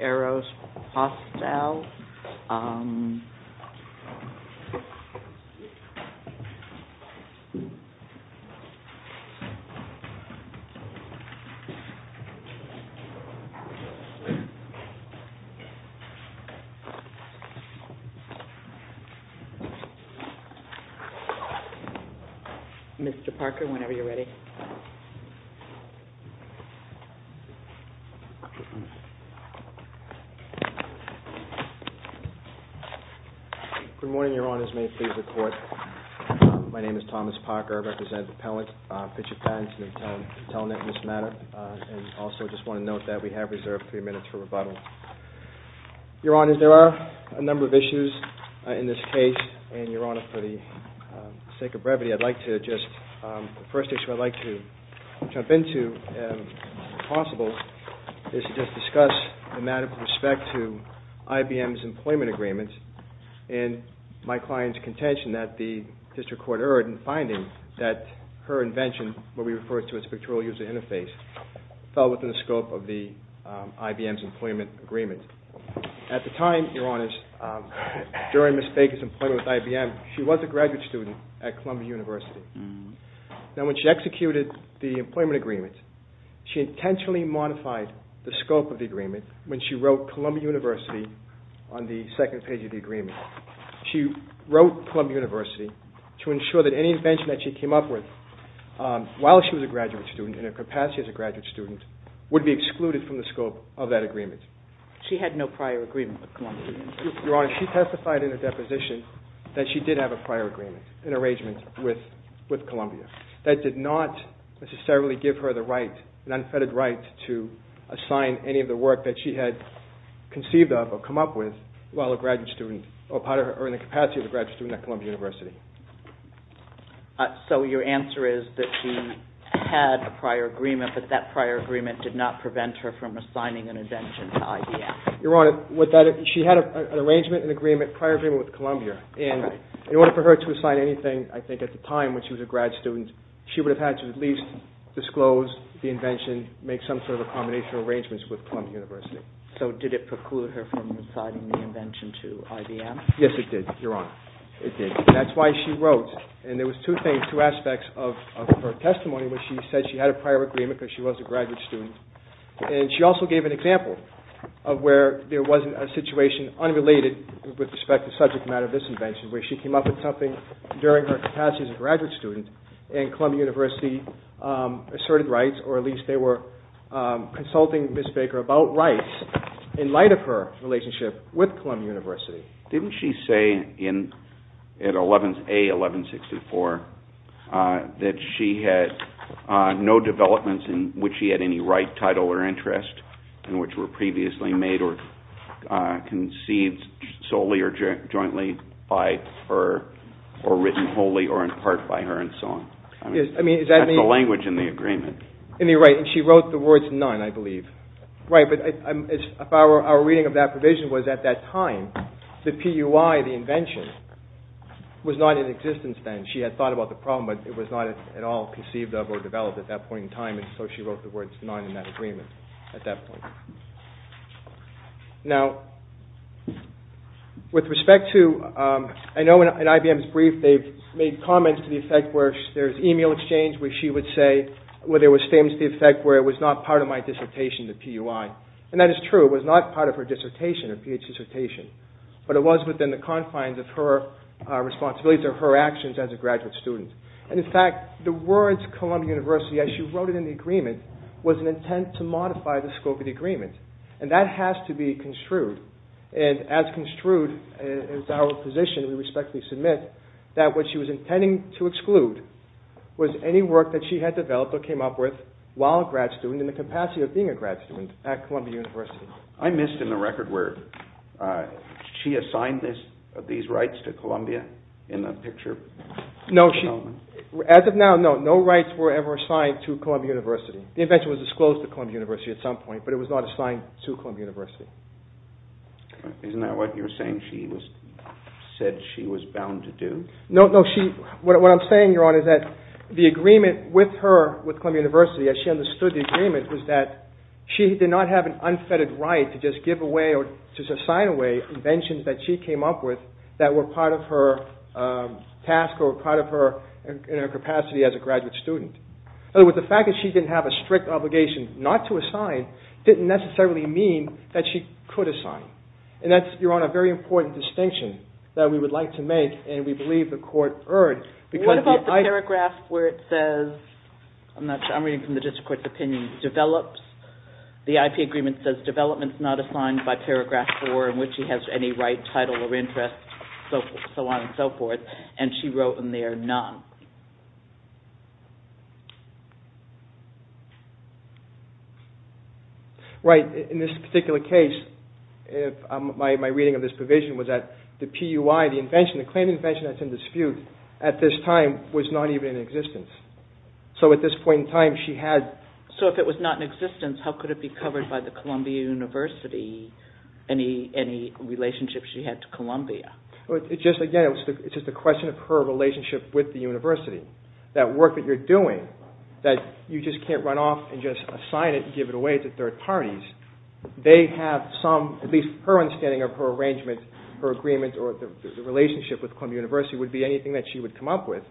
AEROPOSTALE AEROPOSTALE Mr. Parker, whenever you're ready. Good morning, Your Honors. May it please the Court. My name is Thomas Parker. I represent the appellant, PICTURE PATENTS, and I'm telling it in this manner. I also just want to note that we have reserved three minutes for rebuttal. Your Honors, there are a number of issues in this case, and Your Honor, for the sake of brevity, I'd like to just, the first issue I'd like to jump into, if possible, is to just discuss the matter with respect to IBM's employment agreements, and my client's contention that the District Court erred in finding that her invention, what we refer to as Pictorial User Interface, fell within the scope of IBM's employment agreement. At the time, Your Honors, during Ms. Baker's employment with IBM, she was a graduate student at Columbia University. Now, when she executed the employment agreement, she intentionally modified the scope of the agreement when she wrote Columbia University on the second page of the agreement. She wrote Columbia University to ensure that any invention that she came up with while she was a graduate student, in her capacity as a graduate student, would be excluded from the scope of that agreement. She had no prior agreement with Columbia. Your Honor, she testified in her deposition that she did have a prior agreement, an arrangement with Columbia. That did not necessarily give her the right, an unfettered right, to assign any of the work that she had conceived of or come up with while a graduate student, or in the capacity of a graduate student at Columbia University. So your answer is that she had a prior agreement, but that prior agreement did not prevent her from assigning an invention to IBM. Your Honor, she had an arrangement, an agreement, prior agreement with Columbia. In order for her to assign anything, I think at the time when she was a grad student, she would have had to at least disclose the invention, make some sort of a combination of arrangements with Columbia University. So did it preclude her from assigning the invention to IBM? Yes, it did, Your Honor. It did. That's why she wrote, and there was two things, two aspects of her testimony, which she said she had a prior agreement because she was a graduate student. She also gave an example of where there wasn't a situation unrelated with respect to the subject matter of this invention, where she came up with something during her capacity as a graduate student, and Columbia University asserted rights, or at least they were consulting Ms. Baker about rights in light of her relationship with Columbia University. Didn't she say in A1164 that she had no developments in which she had any right, title, or interest in which were previously made or conceived solely or jointly by her or written wholly or in part by her and so on? That's the language in the agreement. In the right, and she wrote the words none, I believe. Right, but our reading of that provision was at that time, the PUI, the invention, was not in existence then. She had thought about the problem, but it was not at all conceived of or developed at that point in time, and so she wrote the words none in that agreement at that point. Now, with respect to, I know in IBM's brief they've made comments to the effect where there's email exchange where she would say, where there were statements to the effect where it was not part of my dissertation, the PUI, and that is true. It was not part of her dissertation, her PhD dissertation, but it was within the confines of her responsibilities or her actions as a graduate student, and in fact, the words Columbia University, as she wrote it in the agreement, was an intent to modify the scope of the agreement, and that has to be construed, and as construed as our position, we respectfully submit that what she was intending to exclude was any work that she had developed or came up with while a grad student in the capacity of being a grad student at Columbia University. I missed in the record where she assigned these rights to Columbia in the picture. No, as of now, no, no rights were ever assigned to Columbia University. The invention was disclosed to Columbia University at some point, but it was not assigned to Columbia University. Isn't that what you're saying she said she was bound to do? No, no, what I'm saying, Your Honor, is that the agreement with her, with Columbia University, as she understood the agreement, was that she did not have an unfettered right to just give away or just assign away inventions that she came up with that were part of her task or part of her capacity as a graduate student. In other words, the fact that she didn't have a strict obligation not to assign didn't necessarily mean that she could assign, and that's, Your Honor, a very important distinction that we would like to make and we believe the Court earned. What about the paragraph where it says, I'm not sure, I'm reading from the District Court's opinion, develops, the IP agreement says development is not assigned by paragraph four in which she has any right, title, or interest, so on and so forth, and she wrote in there none. Right, in this particular case, my reading of this provision was that the PUI, the invention, the claim of invention that's in dispute, at this time, was not even in existence. So at this point in time, she had... So if it was not in existence, how could it be covered by the Columbia University, any relationship she had to Columbia? It's just, again, it's just a question of her relationship with the university. That work that you're doing, that you just can't run off and just assign it and give it away to third parties, they have some, at least her understanding of her arrangement, her agreement, or the relationship with Columbia University, would be anything that she would come up with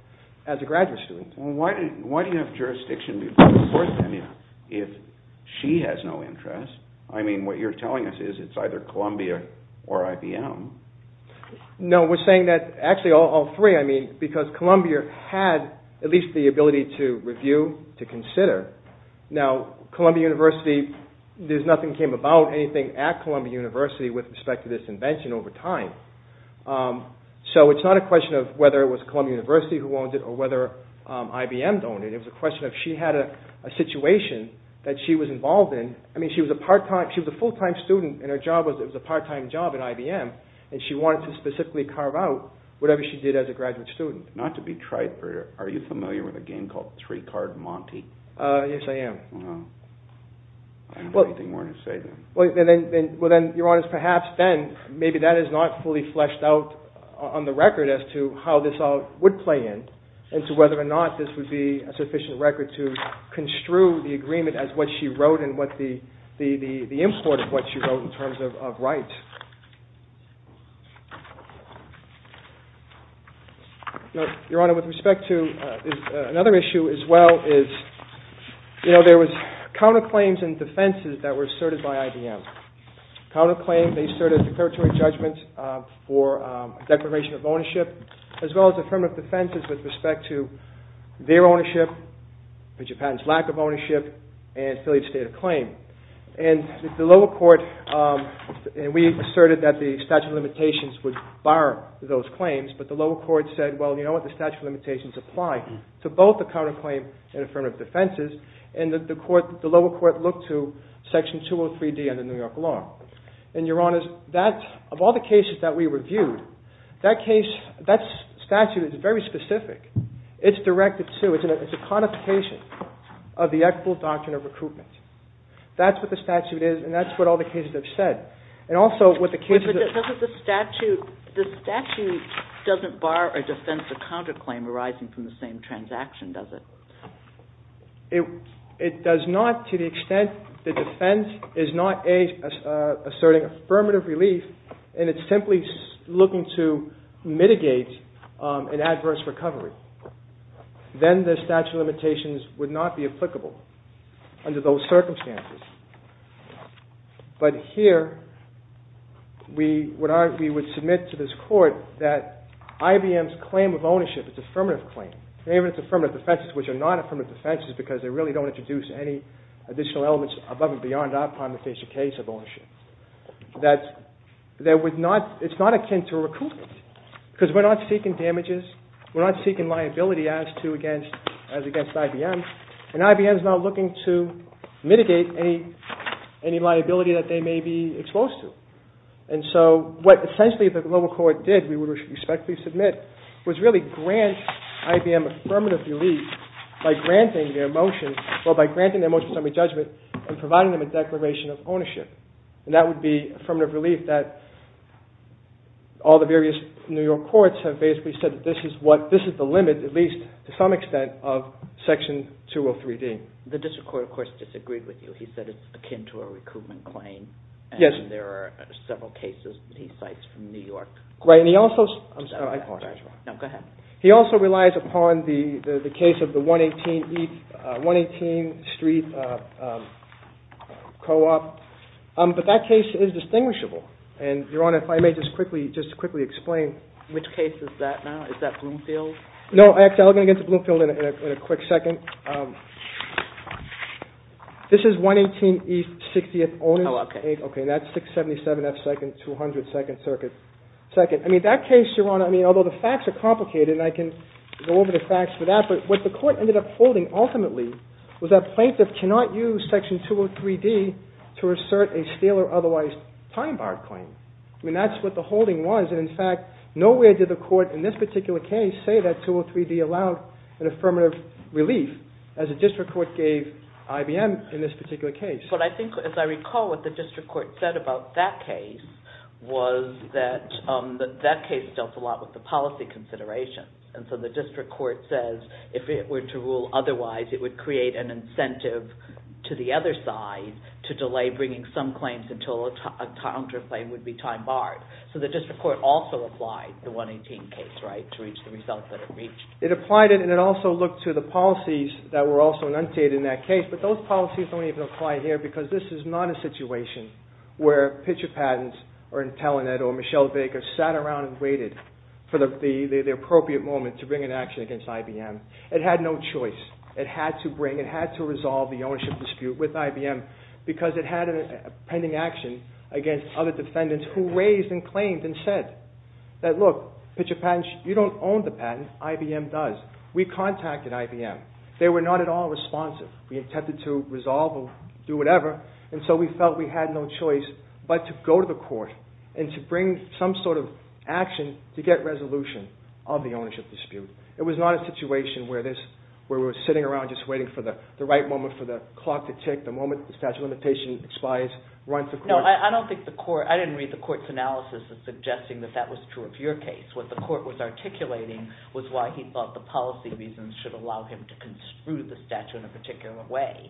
as a graduate student. Well, why do you have jurisdiction before the Court, then, if she has no interest? I mean, what you're telling us is it's either Columbia or IBM. No, we're saying that actually all three, I mean, because Columbia had at least the ability to review, to consider. Now, Columbia University, there's nothing that came about, anything at Columbia University with respect to this invention over time. So it's not a question of whether it was Columbia University who owned it or whether IBM owned it. It was a question of, she had a situation that she was involved in. I mean, she was a part-time, she was a full-time student, and her job was, it was a part-time job at IBM, and she wanted to specifically carve out whatever she did as a graduate student. Not to be trite, but are you familiar with a game called Three-Card Monty? Yes, I am. Well, I don't have anything more to say then. Well, then, Your Honor, perhaps then, maybe that is not fully fleshed out on the record as to how this all would play in, and to whether or not this would be a sufficient record to construe the agreement as what she wrote and the import of what she wrote in terms of rights. Your Honor, with respect to another issue as well is, you know, there was counterclaims and defenses that were asserted by IBM. Counterclaim, they asserted a declaratory judgment for declaration of ownership, as well as affirmative defenses with respect to their ownership, Japan's lack of ownership, and affiliate state of claim. And the lower court, and we asserted that the statute of limitations would bar those claims, but the lower court said, well, you know what? The statute of limitations apply to both the counterclaim and affirmative defenses, and the lower court looked to Section 203D under New York law. And, Your Honor, of all the cases that we reviewed, that statute is very specific. It's directed to, it's a codification of the equitable doctrine of recruitment. That's what the statute is, and that's what all the cases have said. And also what the cases... But doesn't the statute, the statute doesn't bar or defense a counterclaim arising from the same transaction, does it? It does not to the extent the defense is not a, asserting affirmative relief, and it's simply looking to mitigate an adverse recovery. Then the statute of limitations would not be applicable under those circumstances. But here, we would submit to this court that IBM's claim of ownership, its affirmative claim, and even its affirmative defenses, which are not affirmative defenses because they really don't introduce any additional elements above and beyond our primary case of ownership, that there would not, it's not akin to recruitment. Because we're not seeking damages, we're not seeking liability as to, as against IBM, and IBM's not looking to mitigate any liability that they may be exposed to. And so what essentially the global court did, we would respectfully submit, was really grant IBM affirmative relief by granting their motion, well, by granting their motion of summary judgment and providing them a declaration of ownership. And that would be affirmative relief that all the various New York courts have basically said that this is what, this is the limit, at least to some extent, of Section 203D. The district court, of course, disagreed with you. He said it's akin to a recruitment claim. Yes. And there are several cases that he cites from New York. Right, and he also... I'm sorry, I apologize. No, go ahead. He also relies upon the case of the 118 East, 118 Street Co-op. But that case is distinguishable. And, Your Honor, if I may just quickly explain... Which case is that now? Is that Bloomfield? No, actually, I'm going to get to Bloomfield in a quick second. This is 118 East 60th Owners... Oh, okay. Okay, and that's 677 F 2nd, 200 2nd Circuit. I mean, that case, Your Honor, I mean, although the facts are complicated, and I can go over the facts for that, but what the court ended up holding, ultimately, was that plaintiff cannot use Section 203D to assert a stale or otherwise time-barred claim. I mean, that's what the holding was. And, in fact, nowhere did the court in this particular case say that 203D allowed an affirmative relief as the district court gave IBM in this particular case. But I think, as I recall, what the district court said about that case was that that case dealt a lot with the policy considerations. And so the district court says if it were to rule otherwise, it would create an incentive to the other side to delay bringing some claims until a counterclaim would be time-barred. So the district court also applied the 118 case, right, to reach the result that it reached. It applied it, and it also looked to the policies that were also enunciated in that case, but those policies don't even apply here because this is not a situation where Pitcher Patents or Intellinet or Michelle Baker sat around and waited for the appropriate moment to bring an action against IBM. It had no choice. It had to bring, it had to resolve the ownership dispute with IBM because it had a pending action against other defendants who raised and claimed and said that, look, Pitcher Patents, you don't own the patent, IBM does. We contacted IBM. They were not at all responsive. We attempted to resolve or do whatever, and so we felt we had no choice but to go to the court and to bring some sort of action to get resolution of the ownership dispute. It was not a situation where we were sitting around just waiting for the right moment for the clock to tick, the moment the statute of limitations expires, run for court. No, I don't think the court, I didn't read the court's analysis as suggesting that that was true of your case. What the court was articulating was why he thought the policy reasons should allow him to construe the statute in a particular way,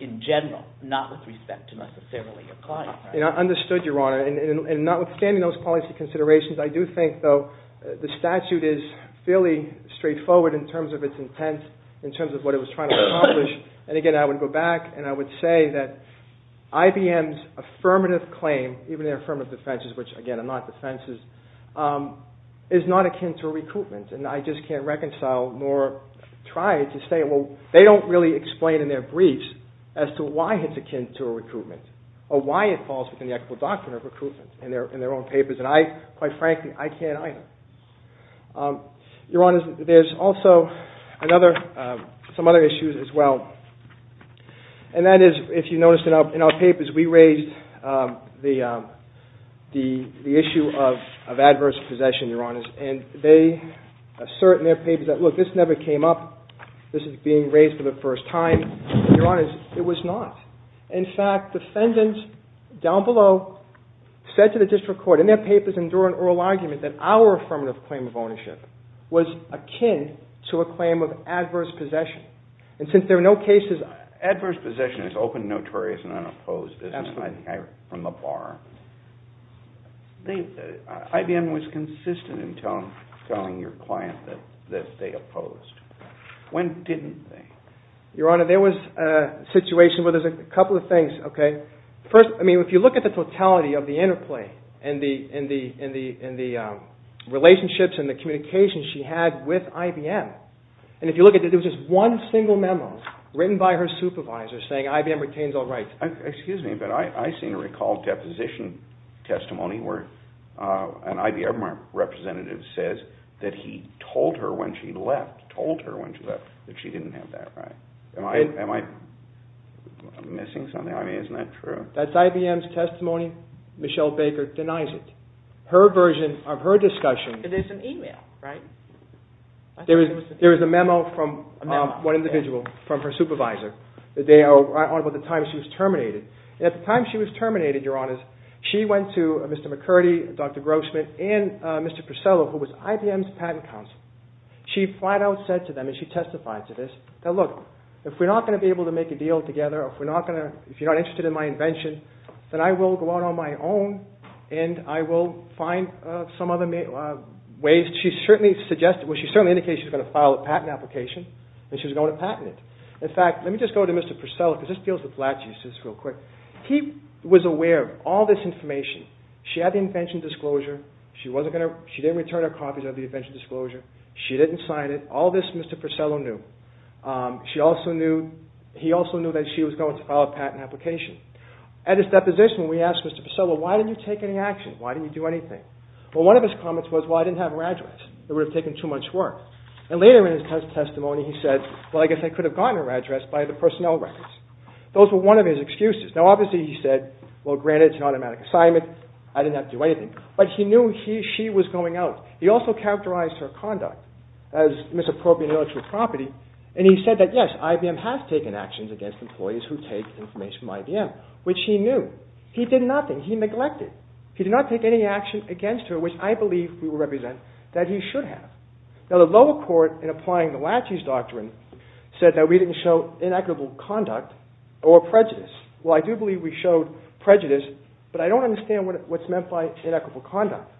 in general, not with respect to necessarily applying it. I understood, Your Honor, and notwithstanding those policy considerations, I do think, though, the statute is fairly straightforward in terms of its intent, in terms of what it was trying to accomplish, and again, I would go back and I would say that IBM's affirmative claim, even their affirmative defenses, which, again, are not defenses, is not akin to a recoupment, and I just can't reconcile nor try to say, well, they don't really explain in their briefs as to why it's akin to a recoupment, or why it falls within the equitable doctrine of recoupment in their own papers, and I, quite frankly, I can't either. Your Honor, there's also some other issues as well, and that is, if you notice in our papers, we raised the issue of adverse possession, Your Honor, and they assert in their papers that, look, this never came up, this is being raised for the first time. Your Honor, it was not. In fact, defendants down below said to the district court in their papers and during oral argument that our affirmative claim of ownership was akin to a claim of adverse possession, and since there are no cases... Adverse possession is open, notorious, and unopposed, isn't it, from the bar. IBM was consistent in telling your client that they opposed. When didn't they? Your Honor, there was a situation where there's a couple of things, okay. First, I mean, if you look at the totality of the interplay in the relationships and the communication she had with IBM, and if you look at it, there was just one single memo written by her supervisor saying IBM retains all rights. Excuse me, but I seem to recall depositions testimony where an IBM representative says that he told her when she left, told her when she left, that she didn't have that right. Am I missing something? I mean, isn't that true? That's IBM's testimony. Michelle Baker denies it. Her version of her discussion... It is an email, right? There is a memo from one individual from her supervisor. They are right on with the time she was terminated. At the time she was terminated, Your Honors, she went to Mr. McCurdy, Dr. Grossman, and Mr. Purcello, who was IBM's patent counsel. She flat out said to them, and she testified to this, that look, if we're not going to be able to make a deal together, if you're not interested in my invention, then I will go out on my own and I will find some other ways. She certainly indicated she was going to file a patent application and she was going to patent it. In fact, let me just go to Mr. Purcello because this deals with latches, just real quick. He was aware of all this information. She had the invention disclosure. She didn't return her copies of the invention disclosure. She didn't sign it. All this Mr. Purcello knew. He also knew that she was going to file a patent application. At his deposition, we asked Mr. Purcello, why didn't you take any action? Why didn't you do anything? Well, one of his comments was, well, I didn't have an address. It would have taken too much work. And later in his testimony, he said, well, I guess I could have gotten her address by the personnel records. Those were one of his excuses. Now, obviously, he said, well, granted, it's an automatic assignment. I didn't have to do anything. But he knew she was going out. He also characterized her conduct as misappropriating intellectual property and he said that, yes, IBM has taken actions against employees who take information from IBM, which he knew. He did nothing. He neglected. He did not take any action against her, which I believe we will represent that he should have. Now, the lower court, in applying the Latches Doctrine, said that we didn't show inequitable conduct or prejudice. Well, I do believe we showed prejudice, but I don't understand what's meant by inequitable conduct.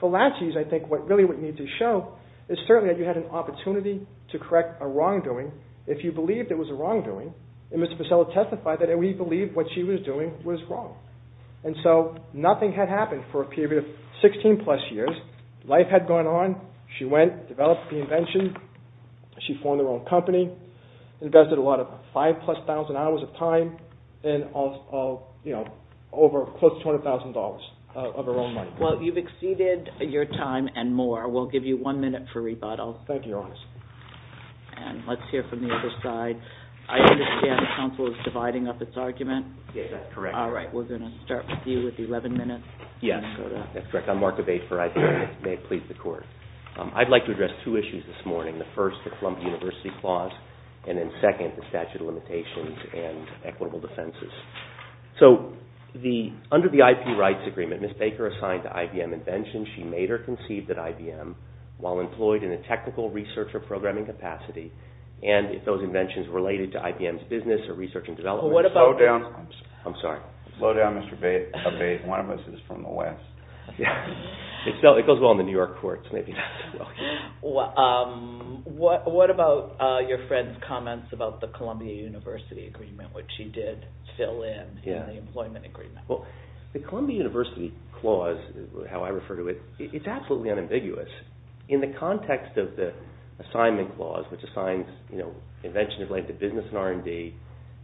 For Latches, I think really what you need to show is certainly that you had an opportunity to correct a wrongdoing if you believed it was a wrongdoing. And Mr. Purcello testified that we believed what she was doing was wrong. And so nothing had happened for a period of 16-plus years. Life had gone on. She went, developed the invention. She formed her own company, invested a lot of 5,000-plus hours of time and over close to $200,000 of her own money. Well, you've exceeded your time and more. We'll give you one minute for rebuttal. Thank you, Your Honor. And let's hear from the other side. I understand the counsel is dividing up its argument. Yes, that's correct. All right, we're going to start with you with 11 minutes. Yes, that's correct. I'm Mark Abate for IBM, if it may please the Court. I'd like to address two issues this morning. The first, the Columbia University clause, and then second, the statute of limitations and equitable defenses. So under the IP Rights Agreement, Ms. Baker assigned to IBM inventions she made or conceived at IBM while employed in a technical research or programming capacity, and if those inventions were related to IBM's business or research and development. Slow down, Mr. Abate. One of us is from the West. It goes well in the New York courts, maybe not so well here. What about your friend's comments about the Columbia University agreement, which he did fill in in the employment agreement? Well, the Columbia University clause, how I refer to it, it's absolutely unambiguous. In the context of the assignment clause, which assigns inventions related to business and R&D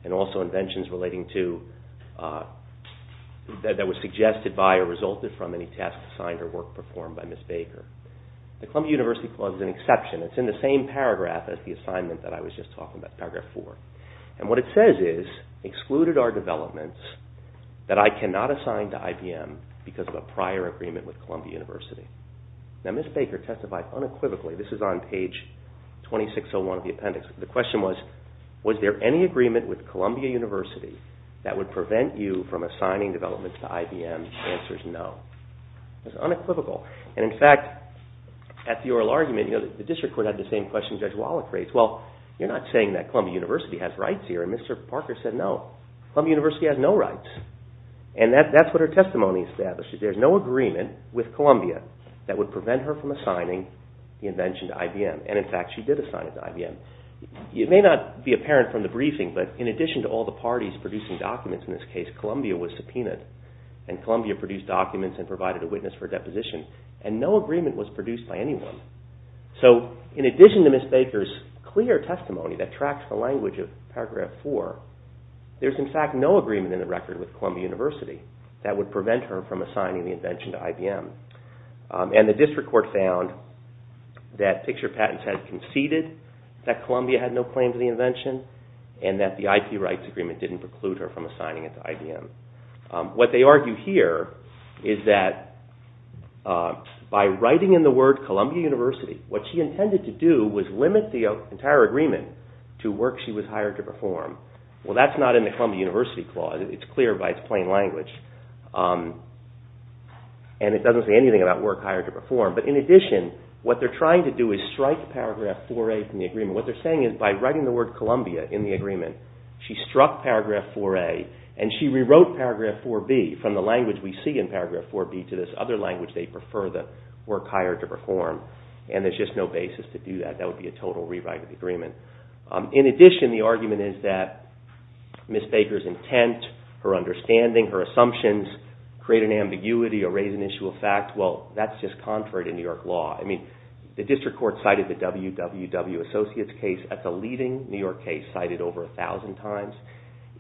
and also inventions that were suggested by or resulted from any tasks assigned or work performed by Ms. Baker, the Columbia University clause is an exception. It's in the same paragraph as the assignment that I was just talking about, paragraph four, and what it says is, excluded are developments that I cannot assign to IBM because of a prior agreement with Columbia University. Now, Ms. Baker testified unequivocally. This is on page 2601 of the appendix. The question was, was there any agreement with Columbia University that would prevent you from assigning developments to IBM? The answer is no. It's unequivocal, and in fact, at the oral argument, the district court had the same question Judge Wallach raised. Well, you're not saying that Columbia University has rights here, and Mr. Parker said no. Columbia University has no rights, and that's what her testimony establishes. There's no agreement with Columbia that would prevent her from assigning the invention to IBM, and in fact, she did assign it to IBM. It may not be apparent from the briefing, but in addition to all the parties producing documents in this case, Columbia was subpoenaed, and Columbia produced documents and provided a witness for deposition, and no agreement was produced by anyone. So in addition to Ms. Baker's clear testimony that tracks the language of paragraph four, there's in fact no agreement in the record with Columbia University that would prevent her from assigning the invention to IBM, and the district court found that Picture Patents had conceded that Columbia had no claim to the invention, and that the IP rights agreement didn't preclude her from assigning it to IBM. What they argue here is that by writing in the word Columbia University, what she intended to do was limit the entire agreement to work she was hired to perform. Well, that's not in the Columbia University clause. It's clear by its plain language, and it doesn't say anything about work hired to perform, but in addition, what they're trying to do is strike paragraph 4A from the agreement. What they're saying is by writing the word Columbia in the agreement, she struck paragraph 4A, and she rewrote paragraph 4B from the language we see in paragraph 4B to this other language they prefer the work hired to perform, and there's just no basis to do that. That would be a total rewrite of the agreement. In addition, the argument is that Ms. Baker's intent, her understanding, her assumptions create an ambiguity or raise an issue of fact. Well, that's just contrary to New York law. I mean, the district court cited the WWW Associates case as a leading New York case cited over a thousand times.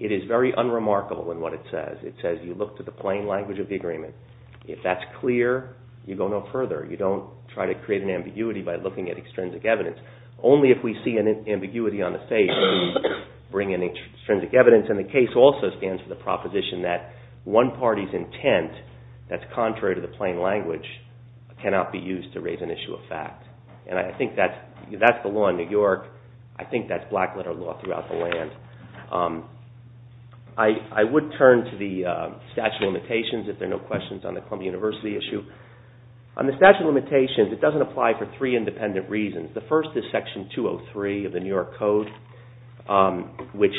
It is very unremarkable in what it says. It says you look to the plain language of the agreement. If that's clear, you go no further. You don't try to create an ambiguity by looking at extrinsic evidence. Only if we see an ambiguity on the face do we bring in extrinsic evidence, and the case also stands for the proposition that one party's intent that's contrary to the plain language cannot be used to raise an issue of fact. And I think that's the law in New York. I think that's black-letter law throughout the land. I would turn to the statute of limitations if there are no questions on the Columbia University issue. On the statute of limitations, it doesn't apply for three independent reasons. The first is Section 203 of the New York Code, which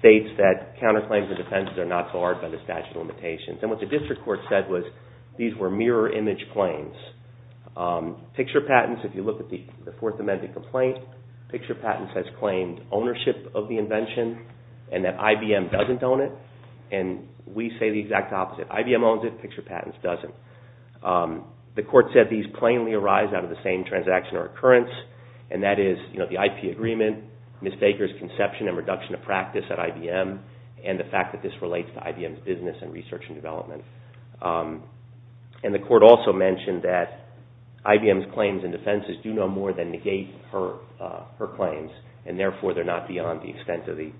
states that counterclaims and defendants are not barred by the statute of limitations. And what the district court said was these were mirror image claims. Picture patents, if you look at the Fourth Amendment complaint, picture patents has claimed ownership of the invention and that IBM doesn't own it. And we say the exact opposite. IBM owns it, picture patents doesn't. The court said these plainly arise out of the same transaction or occurrence, and that is the IP agreement, Ms. Baker's conception and reduction of practice at IBM, and the fact that this relates to IBM's business and research and development. And the court also mentioned that IBM's claims and defenses do no more than negate her claims, and therefore they're not beyond the extent of the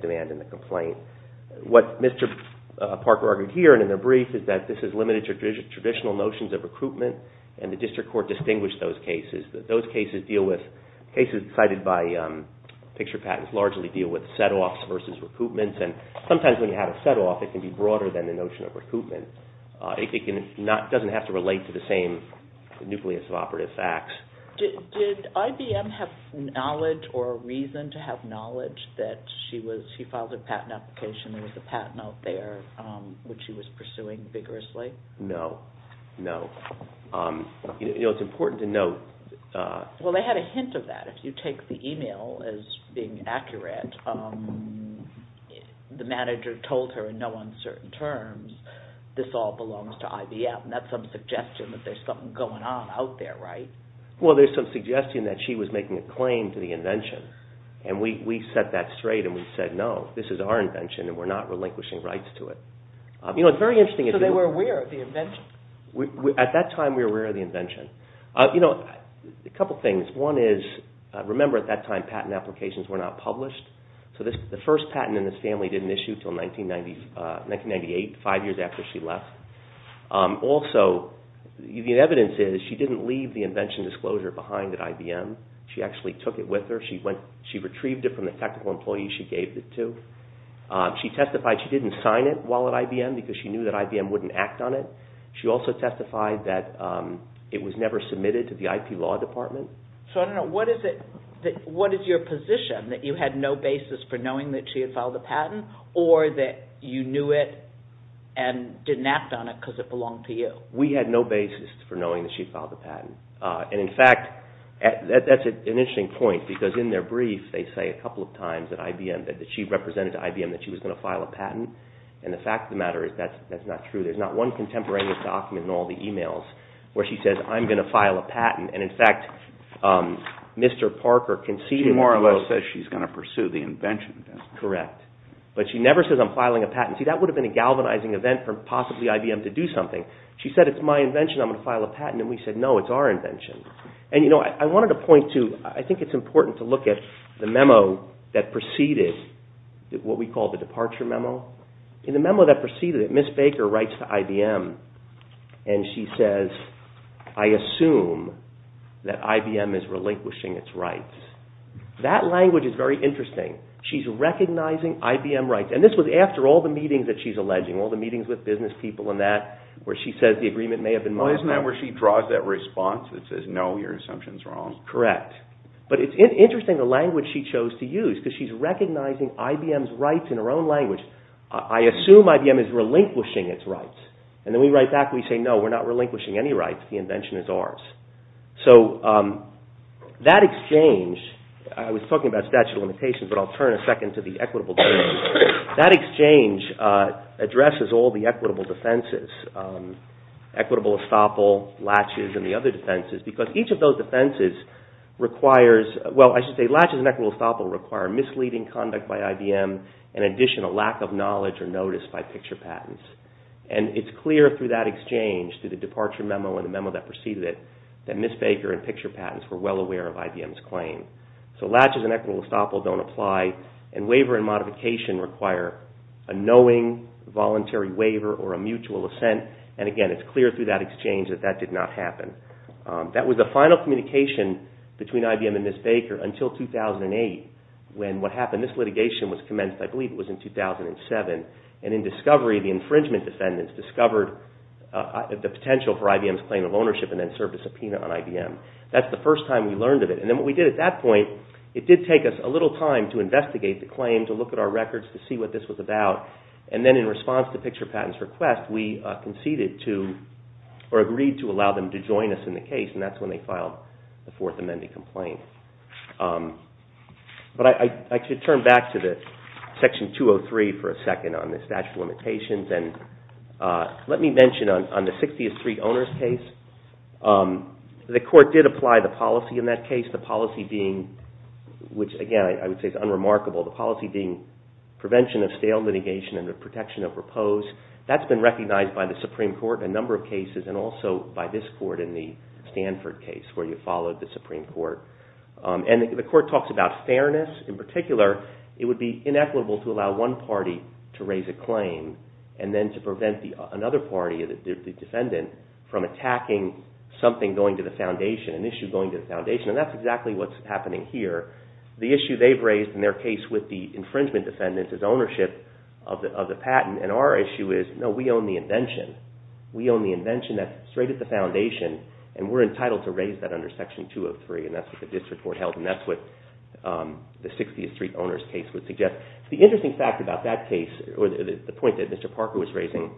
demand in the complaint. What Mr. Parker argued here and in the brief is that this is limited to traditional notions of recruitment, and the district court distinguished those cases. Those cases deal with, cases cited by picture patents, largely deal with set-offs versus recoupments, and sometimes when you have a set-off, it can be broader than the notion of recoupment. It doesn't have to relate to the same nucleus of operative facts. Did IBM have knowledge or reason to have knowledge that she filed a patent application, there was a patent out there, which she was pursuing vigorously? No, no. You know, it's important to note... Well, they had a hint of that. If you take the email as being accurate, the manager told her in no uncertain terms, this all belongs to IBM. That's some suggestion that there's something going on out there, right? Well, there's some suggestion that she was making a claim to the invention, and we set that straight and we said, no, this is our invention and we're not relinquishing rights to it. You know, it's very interesting... So you were aware of the invention? At that time, we were aware of the invention. You know, a couple things. One is, remember at that time, patent applications were not published, so the first patent in this family didn't issue until 1998, five years after she left. Also, the evidence is she didn't leave the invention disclosure behind at IBM. She actually took it with her. She retrieved it from the technical employees she gave it to. She testified she didn't sign it while at IBM because she knew that IBM wouldn't act on it. She also testified that it was never submitted to the IP law department. So I don't know, what is your position, that you had no basis for knowing that she had filed a patent or that you knew it and didn't act on it because it belonged to you? We had no basis for knowing that she had filed a patent. And in fact, that's an interesting point because in their brief, they say a couple of times that she represented to IBM that she was going to file a patent, and the fact of the matter is that's not true. There's not one contemporaneous document in all the emails where she says, I'm going to file a patent. And in fact, Mr. Parker conceded that she was going to pursue the invention. Correct. But she never says, I'm filing a patent. See, that would have been a galvanizing event for possibly IBM to do something. She said, it's my invention, I'm going to file a patent. And we said, no, it's our invention. And I wanted to point to, I think it's important to look at the memo that preceded what we call the departure memo. In the memo that preceded it, Ms. Baker writes to IBM, and she says, I assume that IBM is relinquishing its rights. That language is very interesting. She's recognizing IBM rights. And this was after all the meetings that she's alleging, all the meetings with business people and that, where she says the agreement may have been modified. Isn't that where she draws that response that says, no, your assumption is wrong? Correct. But it's interesting the language she chose to use, because she's recognizing IBM's rights in her own language. I assume IBM is relinquishing its rights. And then we write back and we say, no, we're not relinquishing any rights. The invention is ours. So that exchange, I was talking about statute of limitations, but I'll turn a second to the equitable defense. That exchange addresses all the equitable defenses, equitable estoppel, latches, and the other defenses, because each of those defenses requires, well, I should say, latches and equitable estoppel require misleading conduct by IBM and additional lack of knowledge or notice by picture patents. And it's clear through that exchange, through the departure memo and the memo that preceded it, that Ms. Baker and picture patents were well aware of IBM's claim. So latches and equitable estoppel don't apply, and waiver and modification require a knowing voluntary waiver or a mutual assent. And again, it's clear through that exchange that that did not happen. That was the final communication between IBM and Ms. Baker until 2008 when what happened, this litigation was commenced, I believe it was in 2007, and in discovery, the infringement defendants discovered the potential for IBM's claim of ownership and then served a subpoena on IBM. That's the first time we learned of it. And then what we did at that point, it did take us a little time to investigate the claim, to look at our records, to see what this was about. And then in response to picture patents' request, we conceded to or agreed to allow them to join us in the case, and that's when they filed the Fourth Amendment complaint. But I should turn back to Section 203 for a second on the statute of limitations. And let me mention on the 60th Street Owners case, the court did apply the policy in that case, the policy being, which again I would say is unremarkable, the policy being prevention of stale litigation and the protection of repose. That's been recognized by the Supreme Court in a number of cases and also by this court in the Stanford case where you followed the Supreme Court. And the court talks about fairness. In particular, it would be inequitable to allow one party to raise a claim and then to prevent another party, the defendant, from attacking something going to the foundation, an issue going to the foundation. And that's exactly what's happening here. The issue they've raised in their case with the infringement defendants is ownership of the patent, and our issue is, no, we own the invention. We own the invention that's straight at the foundation, and we're entitled to raise that under Section 203, and that's what the district court held, and that's what the 60th Street Owners case would suggest. The interesting fact about that case, or the point that Mr. Parker was raising,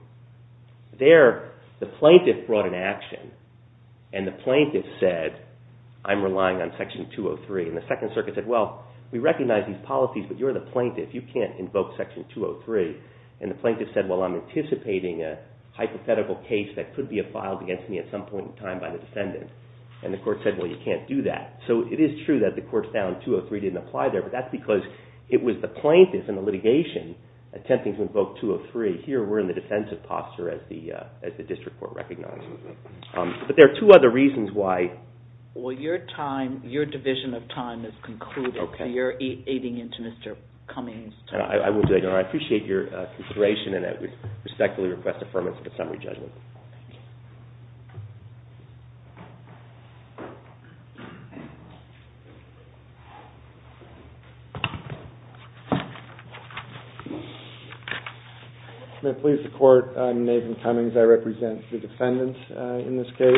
there the plaintiff brought an action, and the plaintiff said, I'm relying on Section 203, and the Second Circuit said, well, we recognize these policies, but you're the plaintiff. You can't invoke Section 203. And the plaintiff said, well, I'm anticipating a hypothetical case that could be filed against me at some point in time by the defendant. And the court said, well, you can't do that. So it is true that the court found 203 didn't apply there, but that's because it was the plaintiff in the litigation attempting to invoke 203. Here we're in the defensive posture as the district court recognizes it. But there are two other reasons why. Well, your time, your division of time has concluded, so you're aiding into Mr. Cummings' time. I will do that. I appreciate your consideration, and I would respectfully request affirmation of the summary judgment. May it please the Court, I'm Nathan Cummings. I represent the defendants in this case.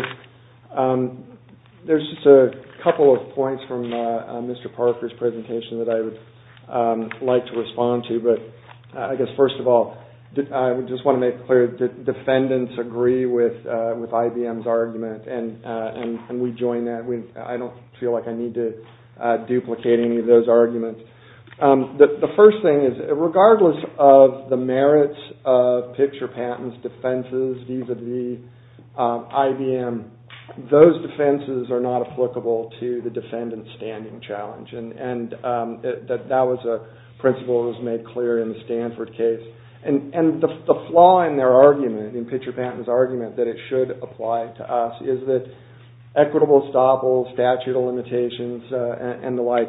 There's just a couple of points from Mr. Parker's presentation that I would like to respond to. But I guess first of all, I just want to make clear that defendants agree with IBM's argument, and we join that. I don't feel like I need to duplicate any of those arguments. The first thing is, regardless of the merits of Pitcher Patton's defenses vis-à-vis IBM, those defenses are not applicable to the defendant's standing challenge. And that was a principle that was made clear in the Stanford case. And the flaw in their argument, in Pitcher Patton's argument, that it should apply to us, is that equitable estoppels, statute of limitations, and the like,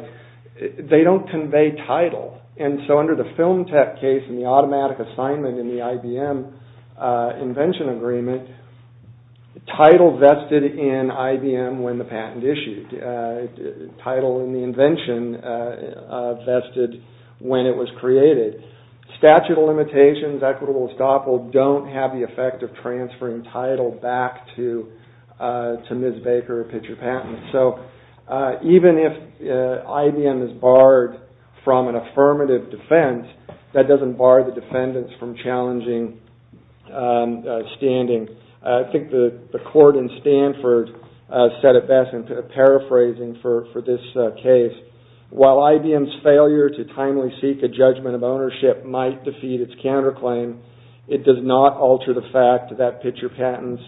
they don't convey title. And so under the Film Tech case, and the automatic assignment in the IBM invention agreement, title vested in IBM when the patent issued, title in the invention vested when it was created. Statute of limitations, equitable estoppels, don't have the effect of transferring title back to Ms. Baker or Pitcher Patton. So even if IBM is barred from an affirmative defense, that doesn't bar the defendants from challenging standing. I think the court in Stanford said it best in paraphrasing for this case, while IBM's failure to timely seek a judgment of ownership might defeat its counterclaim, it does not alter the fact that Pitcher Patton's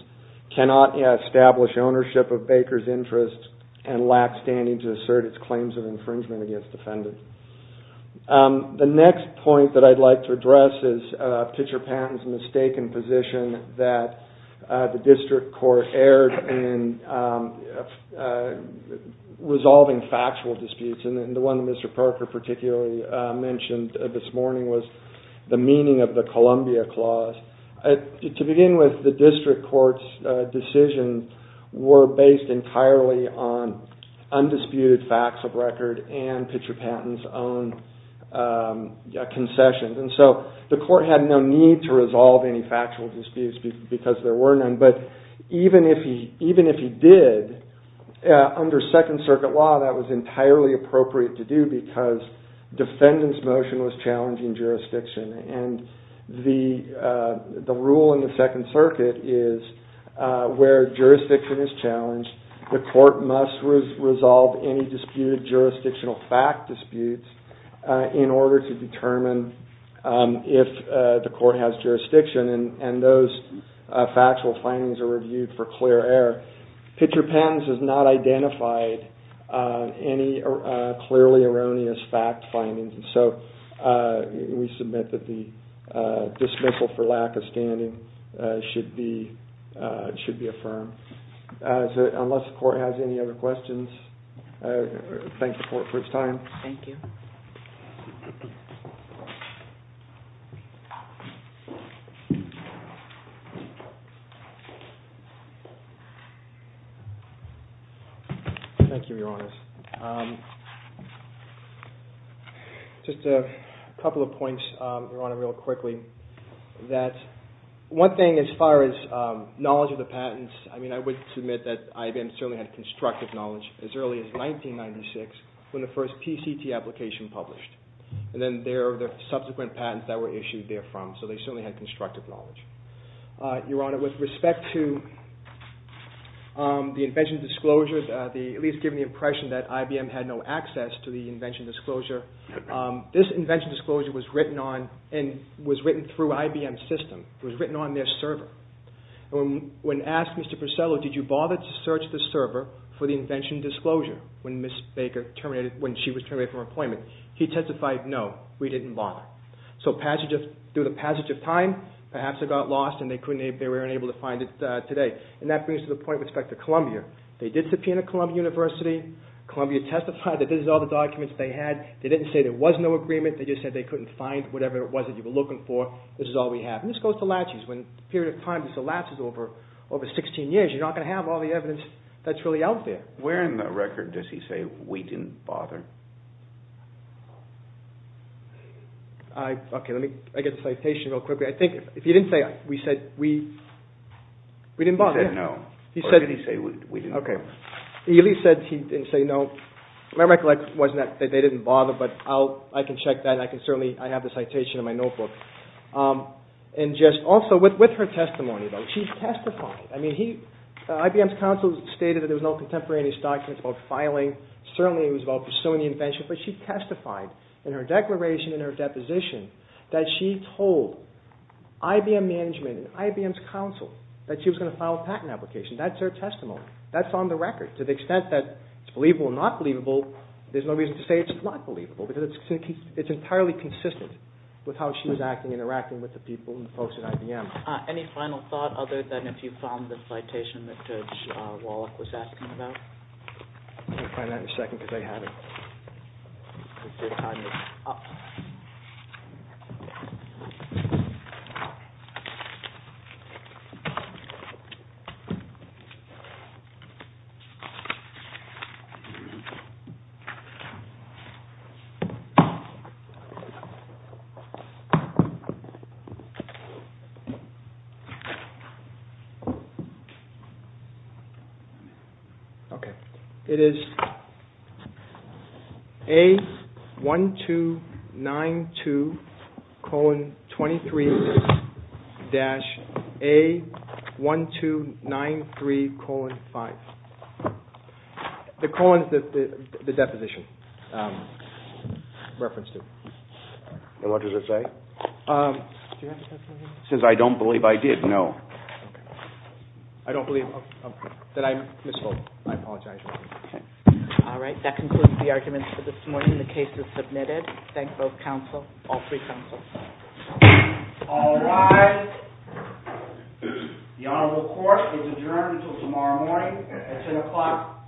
cannot establish ownership of Baker's interest and lack standing to assert its claims of infringement against defendants. The next point that I'd like to address is Pitcher Patton's mistaken position that the district court erred in resolving factual disputes. And the one that Mr. Parker particularly mentioned this morning was the meaning of the Columbia Clause. To begin with, the district court's decisions were based entirely on undisputed facts of record and Pitcher Patton's own concessions. And so the court had no need to resolve any factual disputes because there were none. But even if he did, under Second Circuit law that was entirely appropriate to do because defendants' motion was challenging jurisdiction. And the rule in the Second Circuit is where jurisdiction is challenged, the court must resolve any disputed jurisdictional fact disputes in order to determine if the court has jurisdiction and those factual findings are reviewed for clear error. Pitcher Patton's has not identified any clearly erroneous fact findings. So we submit that the dismissal for lack of standing should be affirmed. So unless the court has any other questions, I thank the court for its time. Thank you. Thank you, Your Honors. Just a couple of points, Your Honor, real quickly. One thing as far as knowledge of the patents, I would submit that IBM certainly had constructive knowledge as early as 1996 when the first PCT application published. And then there are the subsequent patents that were issued therefrom, so they certainly had constructive knowledge. Your Honor, with respect to the invention disclosures, at least giving the impression that IBM had no access to the invention disclosure, this invention disclosure was written through IBM's system. It was written on their server. When asked, Mr. Purcello, did you bother to search the server for the invention disclosure when she was terminated from her appointment, he testified, no, we didn't bother. So through the passage of time, perhaps it got lost and they were unable to find it today. And that brings to the point with respect to Columbia. They did subpoena Columbia University. Columbia testified that this is all the documents they had. They didn't say there was no agreement. They just said they couldn't find whatever it was that you were looking for. This is all we have. And this goes to laches. When a period of time just elapses over 16 years, you're not going to have all the evidence that's really out there. Where in the record does he say we didn't bother? Okay, let me get the citation real quickly. I think if he didn't say we said we, we didn't bother. He said no. Or did he say we didn't bother? Eli said he didn't say no. My recollection wasn't that they didn't bother, but I can check that. I have the citation in my notebook. And just also with her testimony, she testified. I mean, IBM's counsel stated that there was no contemporaneous documents about filing. Certainly it was about pursuing the invention, but she testified in her declaration, in her deposition, that she told IBM management and IBM's counsel that she was going to file a patent application. That's her testimony. That's on the record. To the extent that it's believable or not believable, there's no reason to say it's not believable because it's entirely consistent with how she was acting, interacting with the people and the folks at IBM. Any final thought other than if you found the citation that Judge Wallach was asking about? I'm going to find that in a second because I had it. Okay. It is A1292,23-A1293,5. The colon is the deposition reference to. And what does it say? Since I don't believe I did, no. I don't believe that I misspoke. I apologize. All right. That concludes the arguments for this morning. The case is submitted. Thank both counsel, all three counsels. All rise. The Honorable Court is adjourned until tomorrow morning at 10 o'clock a.m.